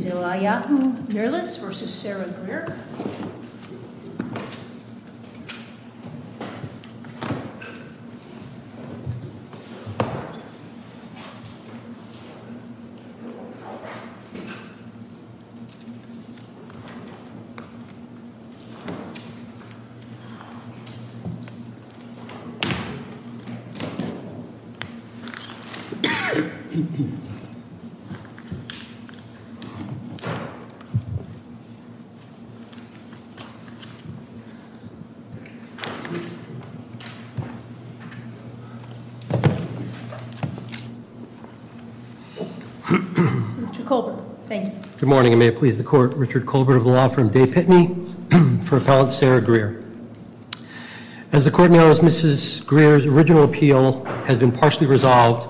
Zelaya Mirlis v. Sarah Greer Mr. Colbert. Thank you. Good morning and may it please the court. Richard Colbert of the law firm De Pitney for Appellant Sarah Greer. As the court knows, Mrs. Greer's original appeal has been partially resolved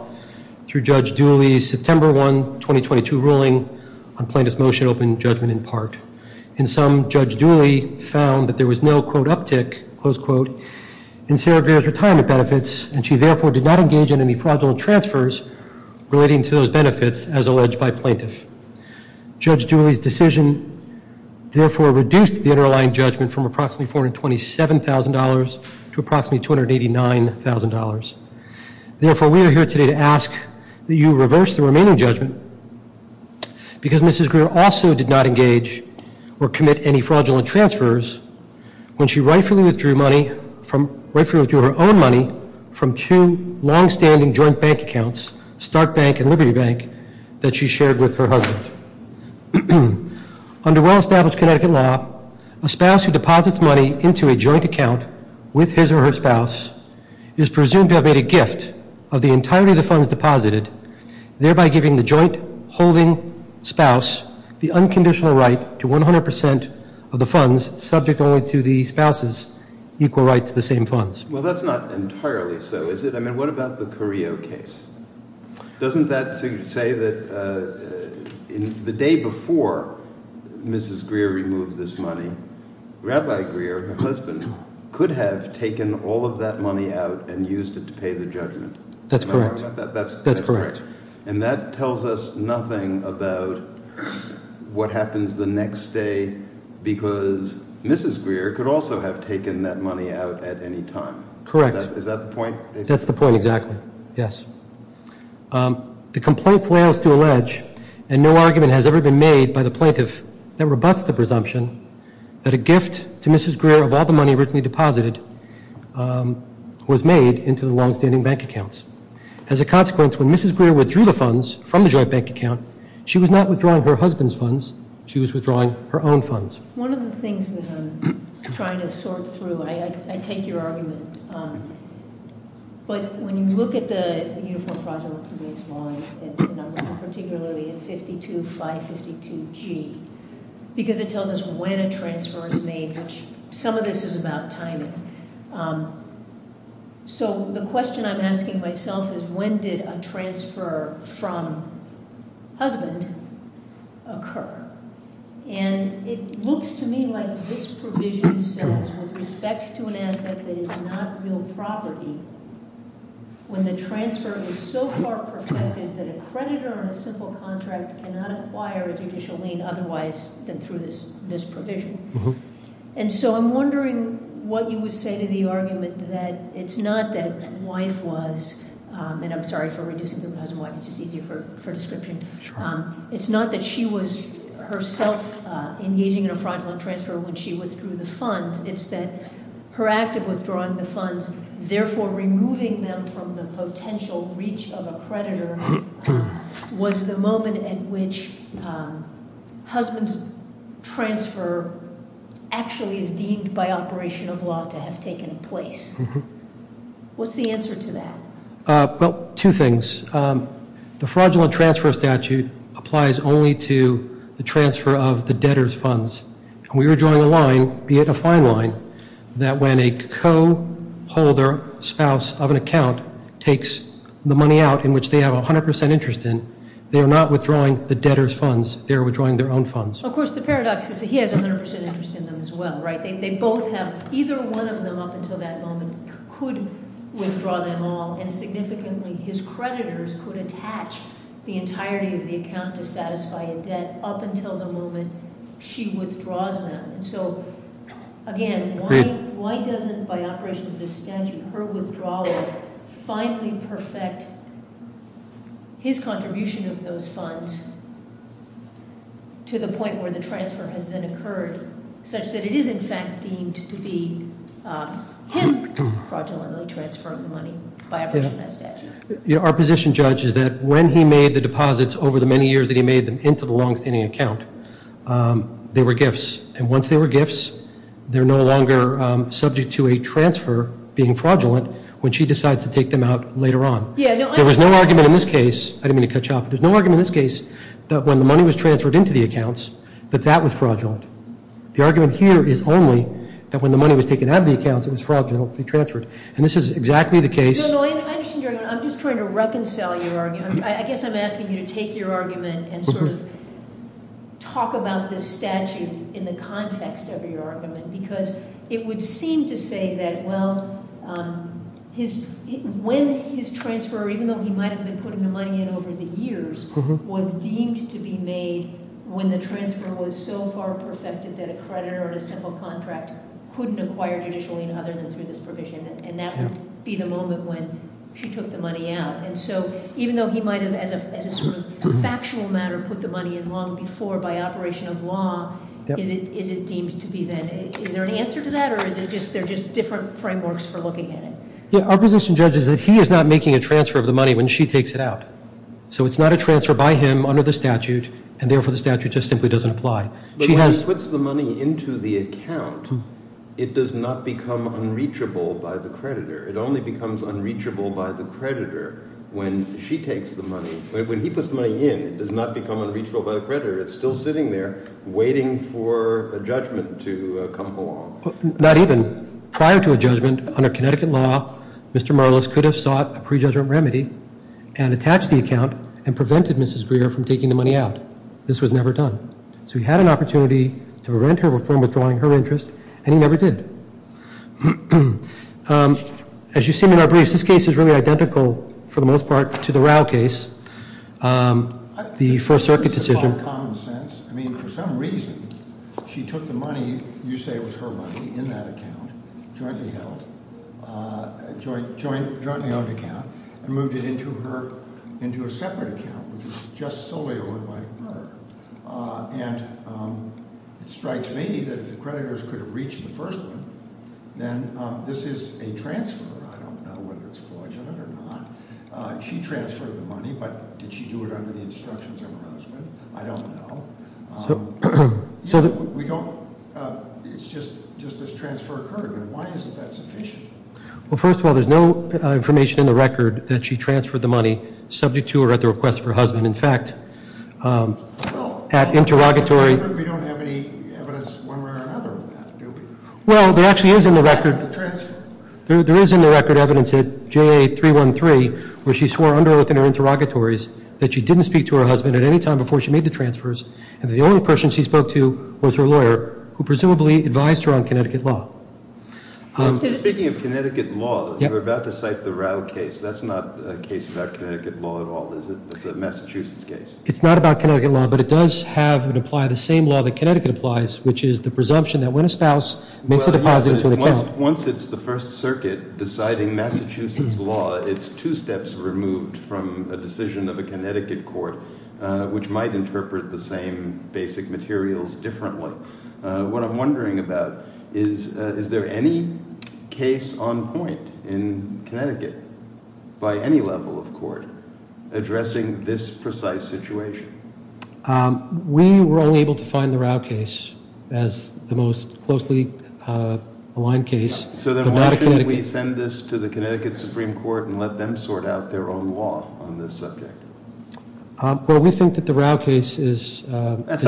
through Judge Dooley's September 1, 2022 ruling on plaintiff's motion opening judgment in part. In sum, Judge Dooley found that there was no quote uptick, close quote, in Sarah Greer's retirement benefits and she therefore did not engage in any fraudulent transfers relating to those benefits as alleged by plaintiff. Judge Dooley's decision therefore reduced the underlying judgment from approximately $427,000 to approximately $289,000. Therefore, we are here today to ask that you reverse the remaining judgment because Mrs. Greer also did not engage or commit any fraudulent transfers when she rightfully withdrew her own money from two long-standing joint bank accounts, Stark Bank and Liberty Bank, that she shared with her husband. Under well-established Connecticut law, a spouse who deposits money into a joint account with his or her spouse is presumed to have made a gift of the entirety of the funds deposited, thereby giving the joint holding spouse the unconditional right to 100% of the funds subject only to the spouse's equal right to the same funds. Well, that's not entirely so, is it? I mean, what about the Carrillo case? Doesn't that say that the day before Mrs. Greer removed this money, Rabbi Greer, her husband, could have taken all of that money out and used it to pay the judgment? That's correct. That's correct. And that tells us nothing about what happens the next day because Mrs. Greer could also have taken that money out at any time. Correct. Is that the point? That's the point, exactly. Yes. The complaint fails to allege, and no argument has ever been made by the plaintiff that rebuts the presumption that a gift to Mrs. Greer of all the money originally deposited was made into the long-standing bank accounts. As a consequence, when Mrs. Greer withdrew the funds from the joint bank account, she was not withdrawing her husband's funds. She was withdrawing her own funds. One of the things that I'm trying to sort through, I take your argument, but when you look at the Uniform Project Reconvenece Law, particularly in 52-552-G, because it tells us when a transfer is made, which some of this is about timing, so the question I'm asking myself is when did a transfer from husband occur? And it looks to me like this provision says, with respect to an asset that is not real property, when the transfer is so far perfected that a creditor on a simple contract cannot acquire a judicial lien otherwise than through this provision. Mm-hm. And so I'm wondering what you would say to the argument that it's not that wife was, and I'm sorry for reducing people to husband and wife, it's just easier for description. Sure. It's not that she was herself engaging in a fraudulent transfer when she withdrew the funds. It's that her act of withdrawing the funds, therefore removing them from the potential reach of a creditor, was the moment at which husband's transfer actually is deemed by operation of law to have taken place. Mm-hm. What's the answer to that? Well, two things. The fraudulent transfer statute applies only to the transfer of the debtor's funds. We are drawing a line, be it a fine line, that when a co-holder, spouse of an account, takes the money out in which they have 100% interest in, they are not withdrawing the debtor's funds. They are withdrawing their own funds. Of course, the paradox is that he has 100% interest in them as well, right? They both have, either one of them up until that moment could withdraw them all. And significantly, his creditors could attach the entirety of the account to satisfy a debt up until the moment she withdraws them. So again, why doesn't, by operation of this statute, her withdrawal finally perfect his contribution of those funds to the point where the transfer has then occurred, such that it is, in fact, deemed to be him fraudulently transferring the money by operation of that statute? Our position, Judge, is that when he made the deposits over the many years that he made them into the long-standing account, they were gifts. And once they were gifts, they're no longer subject to a transfer being fraudulent when she decides to take them out later on. There was no argument in this case. I didn't mean to cut you off. There's no argument in this case that when the money was transferred into the accounts, that that was fraudulent. The argument here is only that when the money was taken out of the accounts, it was fraudulently transferred. And this is exactly the case- No, no, I understand your argument. I'm just trying to reconcile your argument. I guess I'm asking you to take your argument and sort of talk about this statute in the context of your argument. Because it would seem to say that, well, when his transfer, even though he might have been putting the money in over the years, was deemed to be made when the transfer was so far perfected that a creditor on a simple contract couldn't acquire judicially other than through this provision. And that would be the moment when she took the money out. And so even though he might have, as a sort of factual matter, put the money in long before by operation of law, is it deemed to be then? Is there an answer to that? Or is it just they're just different frameworks for looking at it? Yeah, our position, Judge, is that he is not making a transfer of the money when she takes it out. So it's not a transfer by him under the statute, and therefore the statute just simply doesn't apply. But when she puts the money into the account, it does not become unreachable by the creditor. It only becomes unreachable by the creditor when she takes the money. When he puts the money in, it does not become unreachable by the creditor. It's still sitting there waiting for a judgment to come along. Not even. Prior to a judgment, under Connecticut law, Mr. Marlis could have sought a prejudgment remedy and attached the account and prevented Mrs. Greer from taking the money out. This was never done. So he had an opportunity to prevent her from withdrawing her interest, and he never did. As you see in our briefs, this case is really identical, for the most part, to the Rao case. The First Circuit decision- I think this is all common sense. I mean, for some reason, she took the money, you say it was her money, in that account, jointly held, jointly owned account, and moved it into a separate account, which was just solely owned by her. And it strikes me that if the creditors could have reached the first one, then this is a transfer. I don't know whether it's fraudulent or not. She transferred the money, but did she do it under the instructions of her husband? I don't know. We don't- it's just this transfer occurred, but why isn't that sufficient? Well, first of all, there's no information in the record that she transferred the money subject to or at the request of her husband. In fact, at interrogatory- We don't have any evidence one way or another of that, do we? Well, there actually is in the record- The transfer. There is in the record evidence at JA 313 where she swore under oath in her interrogatories that she didn't speak to her husband at any time before she made the transfers, and that the only person she spoke to was her lawyer, who presumably advised her on Connecticut law. Speaking of Connecticut law, you were about to cite the Rao case. That's not a case about Connecticut law at all, is it? It's a Massachusetts case. It's not about Connecticut law, but it does have and apply the same law that Connecticut applies, which is the presumption that when a spouse makes a deposit into an account- Once it's the First Circuit deciding Massachusetts law, it's two steps removed from a decision of a Connecticut court, which might interpret the same basic materials differently. What I'm wondering about is, is there any case on point in Connecticut by any level of court addressing this precise situation? We were only able to find the Rao case as the most closely aligned case. So then why shouldn't we send this to the Connecticut Supreme Court and let them sort out their own law on this subject? Well, we think that the Rao case is- It's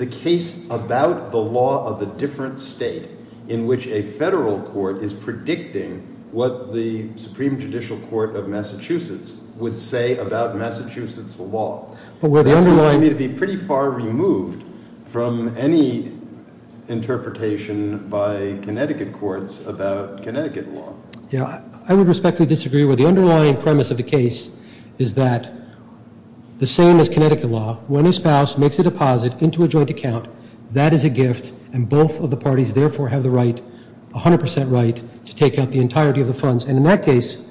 a case about the law of a different state in which a federal court is predicting what the Supreme Judicial Court of Massachusetts would say about Massachusetts law. But where the underlying- It seems to me to be pretty far removed from any interpretation by Connecticut courts about Connecticut law. I would respectfully disagree with the underlying premise of the case is that the same as Connecticut law, when a spouse makes a deposit into a joint account, that is a gift, and both of the parties therefore have the right, 100% right, to take out the entirety of the funds. And in that case,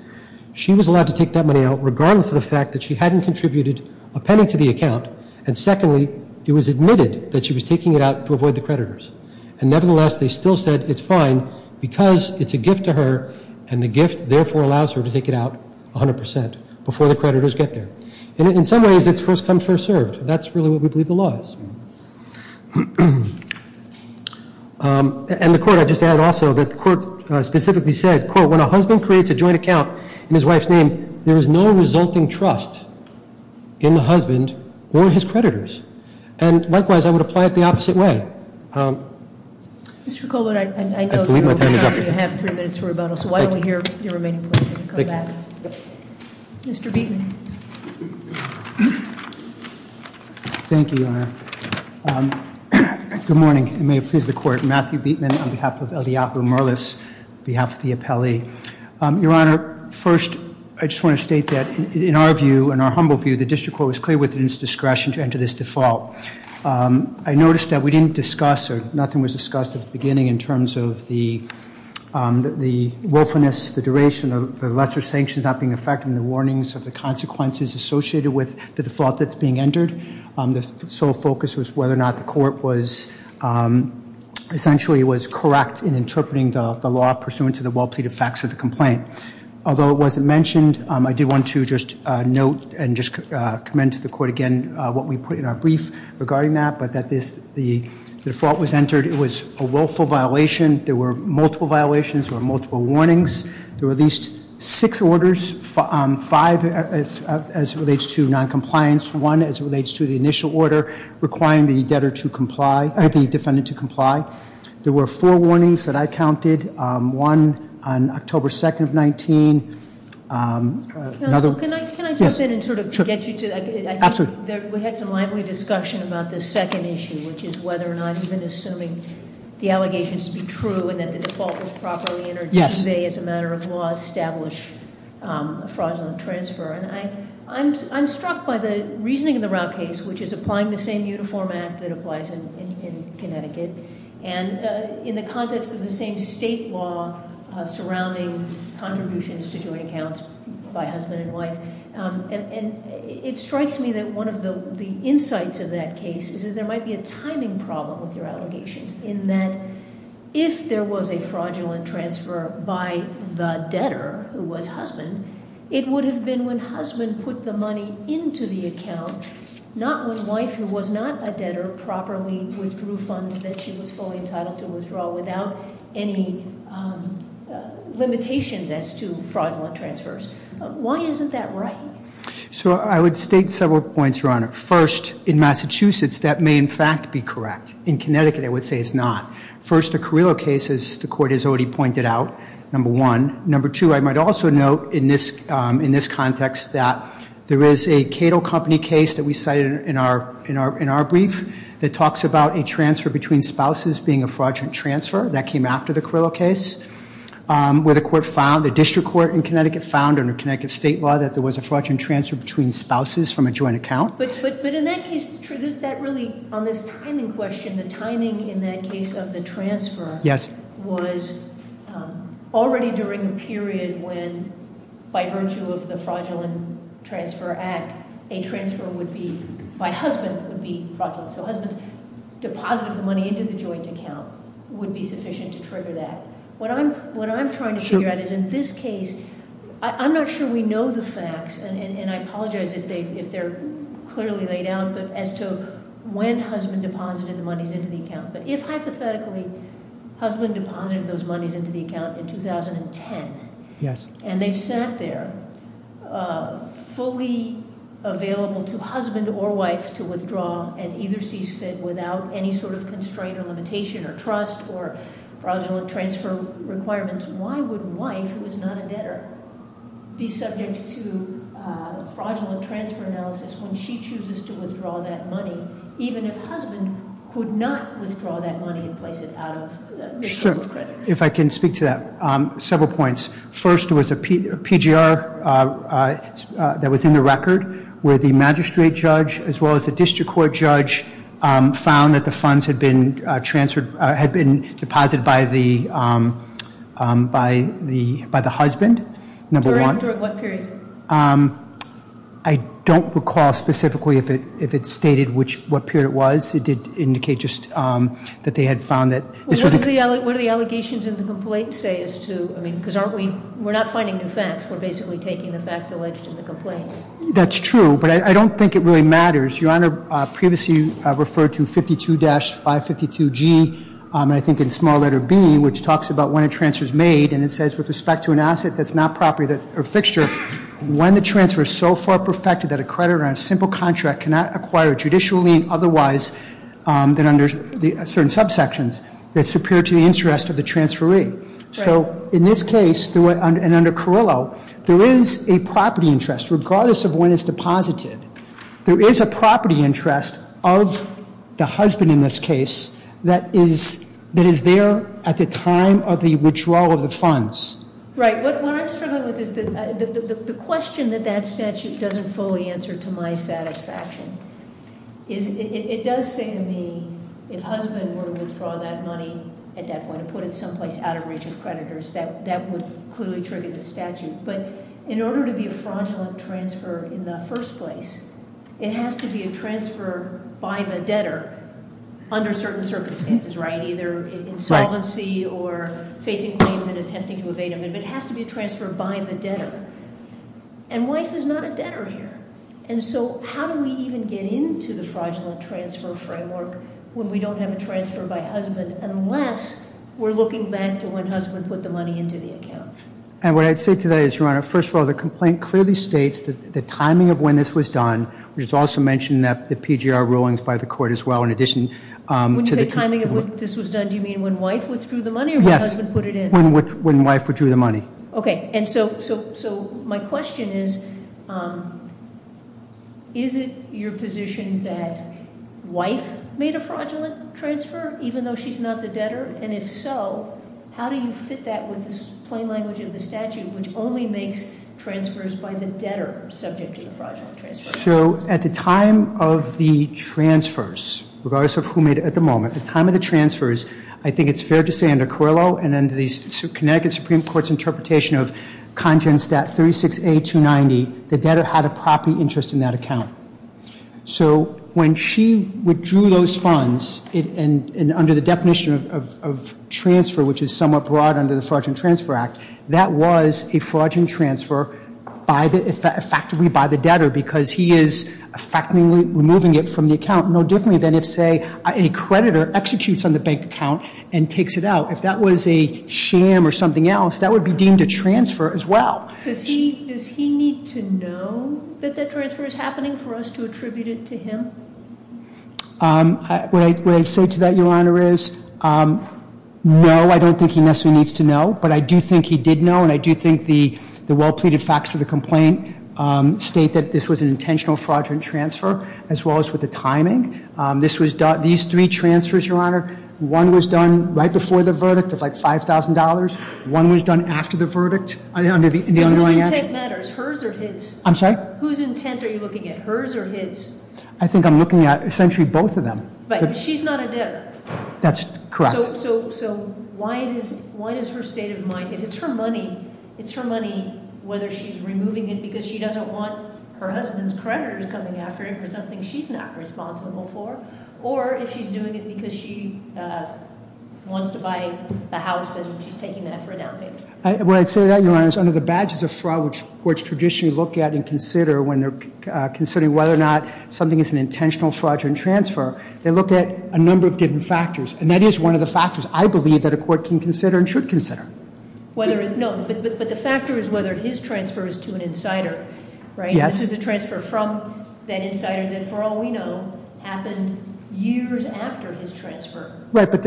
she was allowed to take that money out regardless of the fact that she hadn't contributed a penny to the account. And secondly, it was admitted that she was taking it out to avoid the creditors. And nevertheless, they still said it's fine because it's a gift to her, and the gift therefore allows her to take it out 100% before the creditors get there. In some ways, it's first come, first served. That's really what we believe the law is. And the court- I'd just add also that the court specifically said, quote, when a husband creates a joint account in his wife's name, there is no resulting trust in the husband or his creditors. And likewise, I would apply it the opposite way. Mr. Colbert, I know- I believe my time is up. You have three minutes for rebuttal, so why don't we hear your remaining points when you come back. Thank you. Mr. Beatman. Thank you, Your Honor. Good morning, and may it please the Court. Matthew Beatman on behalf of Eliabu Merlis, on behalf of the appellee. Your Honor, first I just want to state that in our view, in our humble view, the district court was clear within its discretion to enter this default. I noticed that we didn't discuss, or nothing was discussed at the beginning in terms of the willfulness, the duration of the lesser sanctions not being effected, and the warnings of the consequences associated with the default that's being entered. The sole focus was whether or not the court was, essentially, was correct in interpreting the law pursuant to the well-pleaded facts of the complaint. Although it wasn't mentioned, I do want to just note and just commend to the Court again what we put in our brief regarding that, but that the default was entered. It was a willful violation. There were multiple violations. There were multiple warnings. There were at least six orders, five as it relates to noncompliance, one as it relates to the initial order requiring the debtor to comply, the defendant to comply. There were four warnings that I counted. One on October 2nd of 19. Another- Counsel, can I jump in and sort of get you to- Absolutely. We had some lively discussion about this second issue, which is whether or not even assuming the allegations to be true, and that the default was properly entered today as a matter of law, establish a fraudulent transfer. And I'm struck by the reasoning in the Route case, which is applying the same uniform act that applies in Connecticut, and in the context of the same state law surrounding contributions to joint accounts by husband and wife. And it strikes me that one of the insights of that case is that there might be a timing problem with your allegations, in that if there was a fraudulent transfer by the debtor who was husband, it would have been when husband put the money into the account, not when wife who was not a debtor properly withdrew funds that she was fully entitled to withdraw without any limitations as to fraudulent transfers. Why isn't that right? So I would state several points, Your Honor. First, in Massachusetts, that may in fact be correct. In Connecticut, I would say it's not. First, the Carrillo case, as the court has already pointed out, number one. Number two, I might also note in this context that there is a Cato Company case that we cited in our brief that talks about a transfer between spouses being a fraudulent transfer. That came after the Carrillo case, where the court found, the district court in Connecticut found, under Connecticut state law, that there was a fraudulent transfer between spouses from a joint account. But in that case, on this timing question, the timing in that case of the transfer was already during a period when by virtue of the Fraudulent Transfer Act, a transfer by husband would be fraudulent. So husband deposited the money into the joint account would be sufficient to trigger that. What I'm trying to figure out is in this case, I'm not sure we know the facts, and I apologize if they're clearly laid out, but as to when husband deposited the monies into the account. But if hypothetically, husband deposited those monies into the account in 2010, and they've sat there fully available to husband or wife to withdraw as either sees fit without any sort of constraint or limitation or trust or fraudulent transfer requirements, why would wife, who is not a debtor, be subject to fraudulent transfer analysis when she chooses to withdraw that money, even if husband could not withdraw that money and place it out of this sort of credit? If I can speak to that. Several points. First, there was a PGR that was in the record where the magistrate judge as well as the district court judge found that the funds had been deposited by the husband, number one. During what period? I don't recall specifically if it stated what period it was. It did indicate just that they had found that- Well, what do the allegations in the complaint say as to, I mean, because we're not finding new facts. We're basically taking the facts alleged in the complaint. That's true, but I don't think it really matters. Your Honor previously referred to 52-552G, and I think in small letter B, which talks about when a transfer is made, and it says with respect to an asset that's not property or fixture, when the transfer is so far perfected that a creditor on a simple contract cannot acquire a judicial lien otherwise than under certain subsections, it's superior to the interest of the transferee. So in this case, and under Carrillo, there is a property interest regardless of when it's deposited. There is a property interest of the husband in this case that is there at the time of the withdrawal of the funds. Right. What I'm struggling with is the question that that statute doesn't fully answer to my satisfaction. It does say in the, if husband were to withdraw that money at that point and put it someplace out of reach of creditors, that would clearly trigger the statute. But in order to be a fraudulent transfer in the first place, it has to be a transfer by the debtor under certain circumstances, right? Either insolvency or facing claims and attempting to evade them. It has to be a transfer by the debtor. And wife is not a debtor here. And so how do we even get into the fraudulent transfer framework when we don't have a transfer by husband, unless we're looking back to when husband put the money into the account? And what I'd say to that is, Your Honor, first of all, the complaint clearly states that the timing of when this was done, which is also mentioned in the PGR rulings by the court as well, in addition to the- When you say timing of when this was done, do you mean when wife withdrew the money or when husband put it in? Yes. When wife withdrew the money. Okay. And so my question is, is it your position that wife made a fraudulent transfer even though she's not the debtor? And if so, how do you fit that with the plain language of the statute, which only makes transfers by the debtor subject to the fraudulent transfer? So at the time of the transfers, regardless of who made it at the moment, at the time of the transfers, I think it's fair to say under Carillo and under the Connecticut Supreme Court's interpretation of content stat 36A290, the debtor had a property interest in that account. So when she withdrew those funds, and under the definition of transfer, which is somewhat broad under the Fraudulent Transfer Act, that was a fraudulent transfer effectively by the debtor because he is effectively removing it from the account no differently than if, say, a creditor executes on the bank account and takes it out. If that was a sham or something else, that would be deemed a transfer as well. Does he need to know that that transfer is happening for us to attribute it to him? What I say to that, Your Honor, is no, I don't think he necessarily needs to know, but I do think he did know and I do think the well-pleaded facts of the complaint state that this was an intentional fraudulent transfer as well as with the timing. These three transfers, Your Honor, one was done right before the verdict of like $5,000. One was done after the verdict under the underlying action. Whose intent matters, hers or his? I'm sorry? Whose intent are you looking at, hers or his? I think I'm looking at essentially both of them. Right, but she's not a debtor. That's correct. So why does her state of mind, if it's her money, it's her money, whether she's removing it because she doesn't want her husband's creditors coming after her for something she's not responsible for, or if she's doing it because she wants to buy a house and she's taking that for a down payment? When I say that, Your Honor, it's under the badges of fraud which courts traditionally look at and consider when they're considering whether or not something is an intentional fraudulent transfer. They look at a number of different factors, and that is one of the factors I believe that a court can consider and should consider. No, but the factor is whether his transfer is to an insider, right? Yes. This is a transfer from that insider that, for all we know, happened years after his transfer. Right, but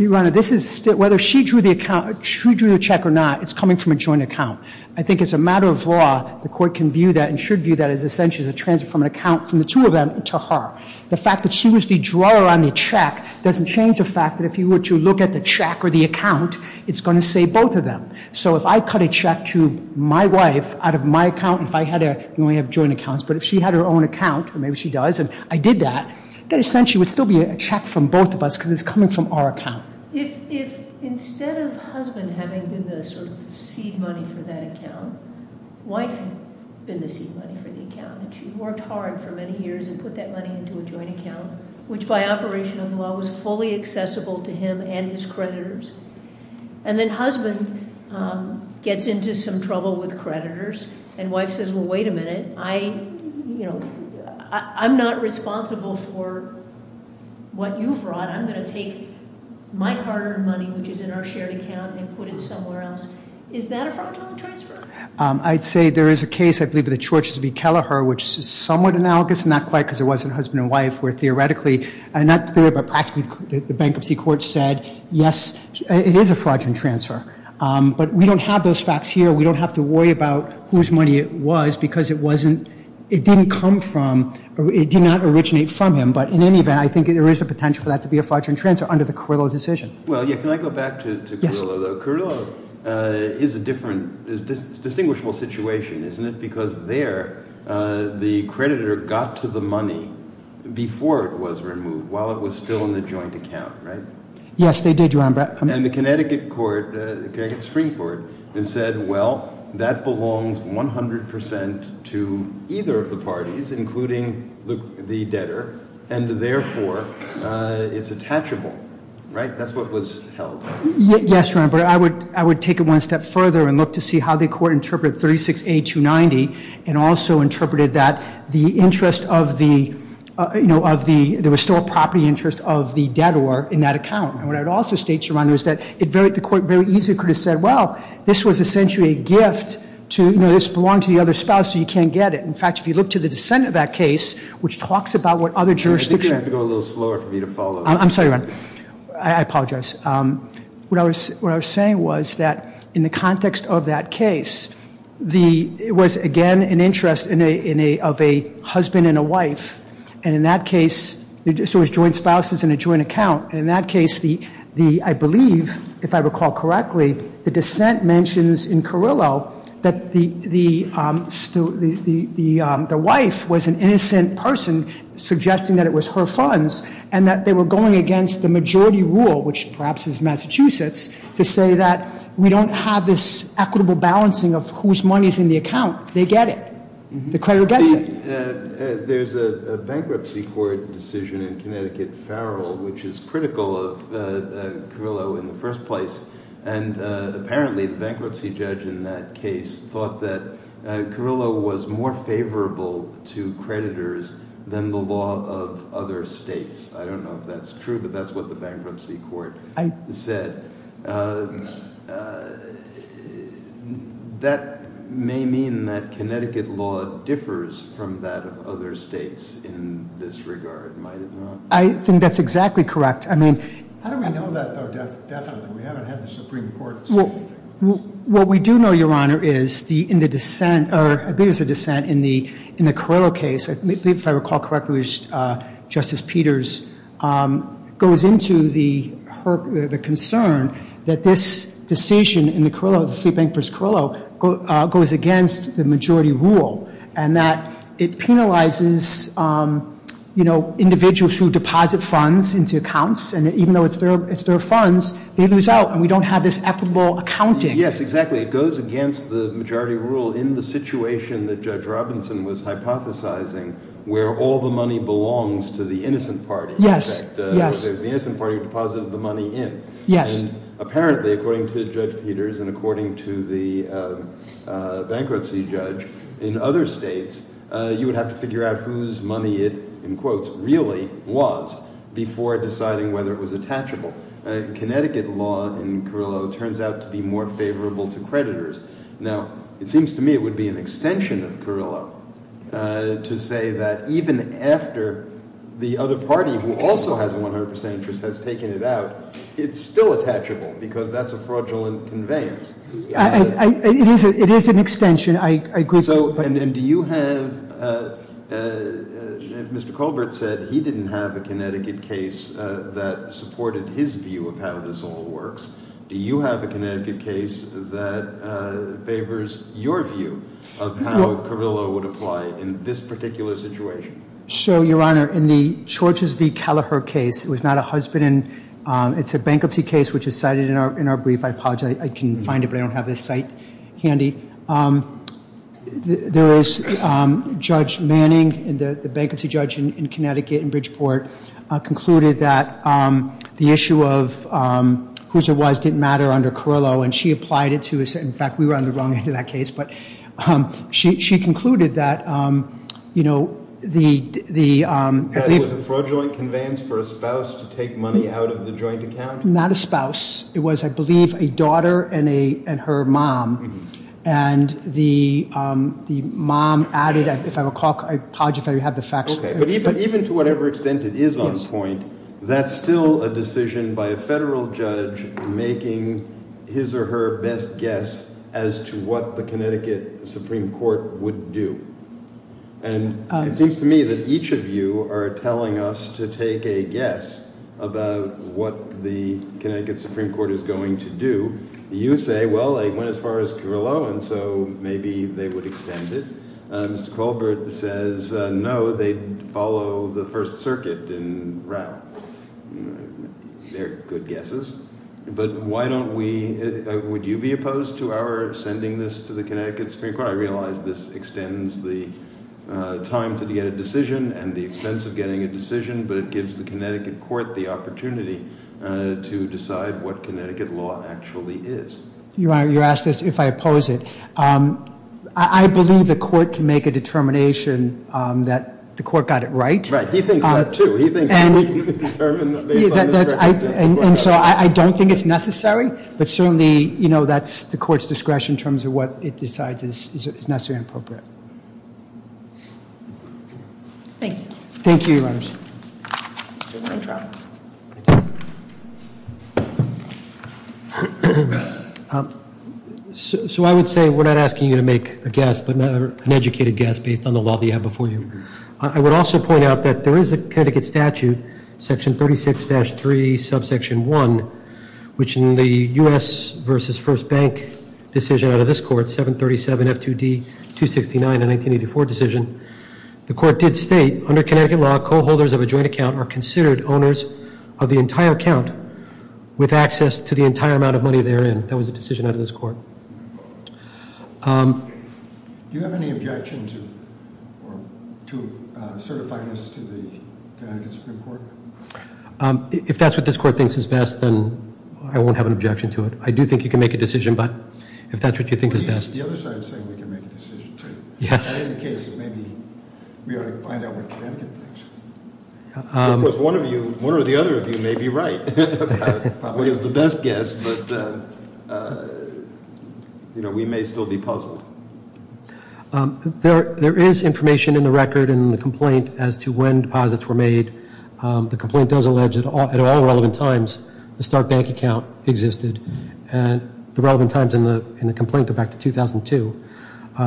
Your Honor, whether she drew the check or not, it's coming from a joint account. I think as a matter of law, the court can view that and should view that as essentially a transfer from an account from the two of them to her. The fact that she was the drawer on the check doesn't change the fact that if you were to look at the check or the account, it's going to say both of them. So if I cut a check to my wife out of my account, and if I had a, we only have joint accounts. But if she had her own account, or maybe she does, and I did that, that essentially would still be a check from both of us because it's coming from our account. If instead of husband having been the sort of seed money for that account, wife had been the seed money for the account. And she worked hard for many years and put that money into a joint account, which by operation of the law was fully accessible to him and his creditors. And then husband gets into some trouble with creditors. And wife says, well, wait a minute, I'm not responsible for what you've brought. I'm going to take my hard-earned money, which is in our shared account, and put it somewhere else. Is that a fragile transfer? I'd say there is a case, I believe, of the Church's v. Kelleher, which is somewhat analogous, not quite because it wasn't husband and wife, where theoretically, not theoretically, but practically the bankruptcy court said, yes, it is a fraudulent transfer. But we don't have those facts here. We don't have to worry about whose money it was because it wasn't, it didn't come from, it did not originate from him. But in any event, I think there is a potential for that to be a fraudulent transfer under the Carrillo decision. Well, yeah, can I go back to Carrillo, though? Yes, sir. Carrillo is a different, is a distinguishable situation, isn't it? Because there, the creditor got to the money before it was removed, while it was still in the joint account, right? Yes, they did, Your Honor. And the Connecticut Supreme Court has said, well, that belongs 100 percent to either of the parties, including the debtor, and therefore, it's attachable, right? That's what was held. Yes, Your Honor, but I would take it one step further and look to see how the court interpreted 36A290 and also interpreted that the interest of the, you know, of the, there was still a property interest of the debtor in that account. And what I would also state, Your Honor, is that the court very easily could have said, well, this was essentially a gift to, you know, this belonged to the other spouse, so you can't get it. In fact, if you look to the dissent of that case, which talks about what other jurisdictions- I think you have to go a little slower for me to follow. I'm sorry, Your Honor. I apologize. What I was saying was that in the context of that case, it was, again, an interest of a husband and a wife. And in that case, so it was joint spouses in a joint account. And in that case, I believe, if I recall correctly, the dissent mentions in Carrillo that the wife was an innocent person, suggesting that it was her funds, and that they were going against the majority rule, which perhaps is Massachusetts, to say that we don't have this equitable balancing of whose money is in the account. They get it. The creditor gets it. There's a bankruptcy court decision in Connecticut, Farrell, which is critical of Carrillo in the first place. And apparently, the bankruptcy judge in that case thought that Carrillo was more favorable to creditors than the law of other states. I don't know if that's true, but that's what the bankruptcy court said. That may mean that Connecticut law differs from that of other states in this regard, might it not? I think that's exactly correct. I mean- How do we know that, though, definitely? We haven't had the Supreme Court say anything. What we do know, Your Honor, is in the dissent, or I believe it was a dissent in the Carrillo case, if I recall correctly, Justice Peters goes into the concern that this decision in the Carrillo, the Fleet Bank v. Carrillo, goes against the majority rule, and that it penalizes individuals who deposit funds into accounts, and even though it's their funds, they lose out, and we don't have this equitable accounting. Yes, exactly. It goes against the majority rule in the situation that Judge Robinson was hypothesizing, where all the money belongs to the innocent party. Yes, yes. In fact, it was the innocent party who deposited the money in. Yes. And apparently, according to Judge Peters and according to the bankruptcy judge in other states, you would have to figure out whose money it, in quotes, really was before deciding whether it was attachable. Connecticut law in Carrillo turns out to be more favorable to creditors. Now, it seems to me it would be an extension of Carrillo to say that even after the other party, who also has a 100% interest, has taken it out, it's still attachable because that's a fraudulent conveyance. It is an extension. I agree. And do you have, Mr. Colbert said he didn't have a Connecticut case that supported his view of how this all works. Do you have a Connecticut case that favors your view of how Carrillo would apply in this particular situation? So, Your Honor, in the Georges v. Kelleher case, it was not a husband. It's a bankruptcy case, which is cited in our brief. I apologize. I can find it, but I don't have this cite handy. There is Judge Manning, the bankruptcy judge in Connecticut, in Bridgeport, concluded that the issue of whose it was didn't matter under Carrillo, and she applied it to us. In fact, we were on the wrong end of that case. She concluded that the- That it was a fraudulent conveyance for a spouse to take money out of the joint account? Not a spouse. It was, I believe, a daughter and her mom, and the mom added, if I recall, I apologize if I don't have the facts. Okay, but even to whatever extent it is on point, that's still a decision by a federal judge making his or her best guess as to what the Connecticut Supreme Court would do. And it seems to me that each of you are telling us to take a guess about what the Connecticut Supreme Court is going to do. You say, well, they went as far as Carrillo, and so maybe they would extend it. Mr. Colbert says, no, they'd follow the First Circuit in Rao. They're good guesses, but why don't we- Would you be opposed to our sending this to the Connecticut Supreme Court? I realize this extends the time to get a decision and the expense of getting a decision, but it gives the Connecticut court the opportunity to decide what Connecticut law actually is. Your Honor, you asked this, if I oppose it. I believe the court can make a determination that the court got it right. Right, he thinks that, too. He thinks we can determine that based on discretion. And so I don't think it's necessary, but certainly, you know, that's the court's discretion in terms of what it decides is necessary and appropriate. Thank you. Mr. Weintraub. So I would say we're not asking you to make a guess, but an educated guess based on the law that you have before you. I would also point out that there is a Connecticut statute, section 36-3, subsection 1, which in the U.S. versus First Bank decision out of this court, 737 F2D 269, the 1984 decision, the court did state, under Connecticut law, co-holders of a joint account are considered owners of a joint account. Co-holders of the entire account with access to the entire amount of money they're in. That was the decision out of this court. Do you have any objection to certifying this to the Connecticut Supreme Court? If that's what this court thinks is best, then I won't have an objection to it. I do think you can make a decision, but if that's what you think is best. The other side is saying we can make a decision, too. Yes. I think it's the case that maybe we ought to find out what Connecticut thinks. Of course, one or the other of you may be right. Probably is the best guess, but we may still be puzzled. There is information in the record in the complaint as to when deposits were made. The complaint does allege that at all relevant times the Start Bank account existed. The relevant times in the complaint go back to 2002.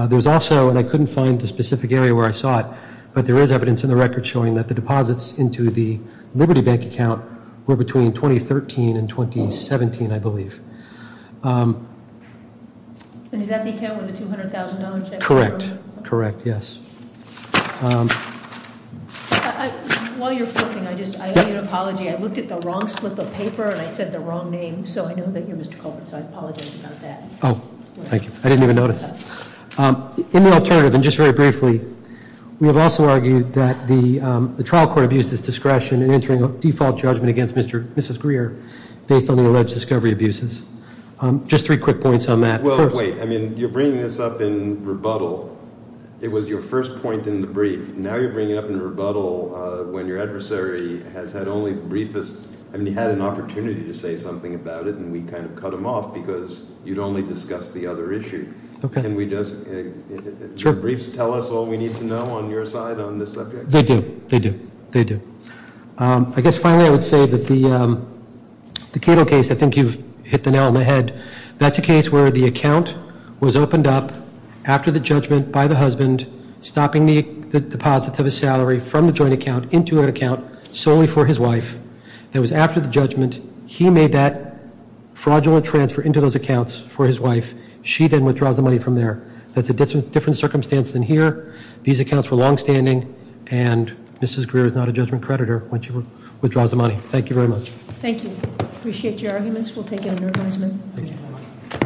There's also, and I couldn't find the specific area where I saw it, but there is evidence in the record showing that the deposits into the Liberty Bank account were between 2013 and 2017, I believe. And is that the account with the $200,000 checkbook? Correct. Correct, yes. While you're flipping, I need an apology. I looked at the wrong slip of paper, and I said the wrong name, so I know that you're Mr. Colbert, so I apologize about that. Oh, thank you. I didn't even notice. In the alternative, and just very briefly, we have also argued that the trial court abused its discretion in entering a default judgment against Mrs. Greer based on the alleged discovery abuses. Just three quick points on that. Well, wait. I mean, you're bringing this up in rebuttal. It was your first point in the brief. Now you're bringing it up in rebuttal when your adversary has had only the briefest. I mean, he had an opportunity to say something about it, and we kind of cut him off because you'd only discussed the other issue. Can the briefs tell us all we need to know on your side on this subject? They do. They do. They do. I guess finally I would say that the Cato case, I think you've hit the nail on the head, that's a case where the account was opened up after the judgment by the husband, stopping the deposits of his salary from the joint account into an account solely for his wife. It was after the judgment, he made that fraudulent transfer into those accounts for his wife. She then withdraws the money from there. That's a different circumstance than here. These accounts were longstanding, and Mrs. Greer is not a judgment creditor when she withdraws the money. Thank you very much. Thank you. Appreciate your arguments. We'll take it under advisement. Thank you.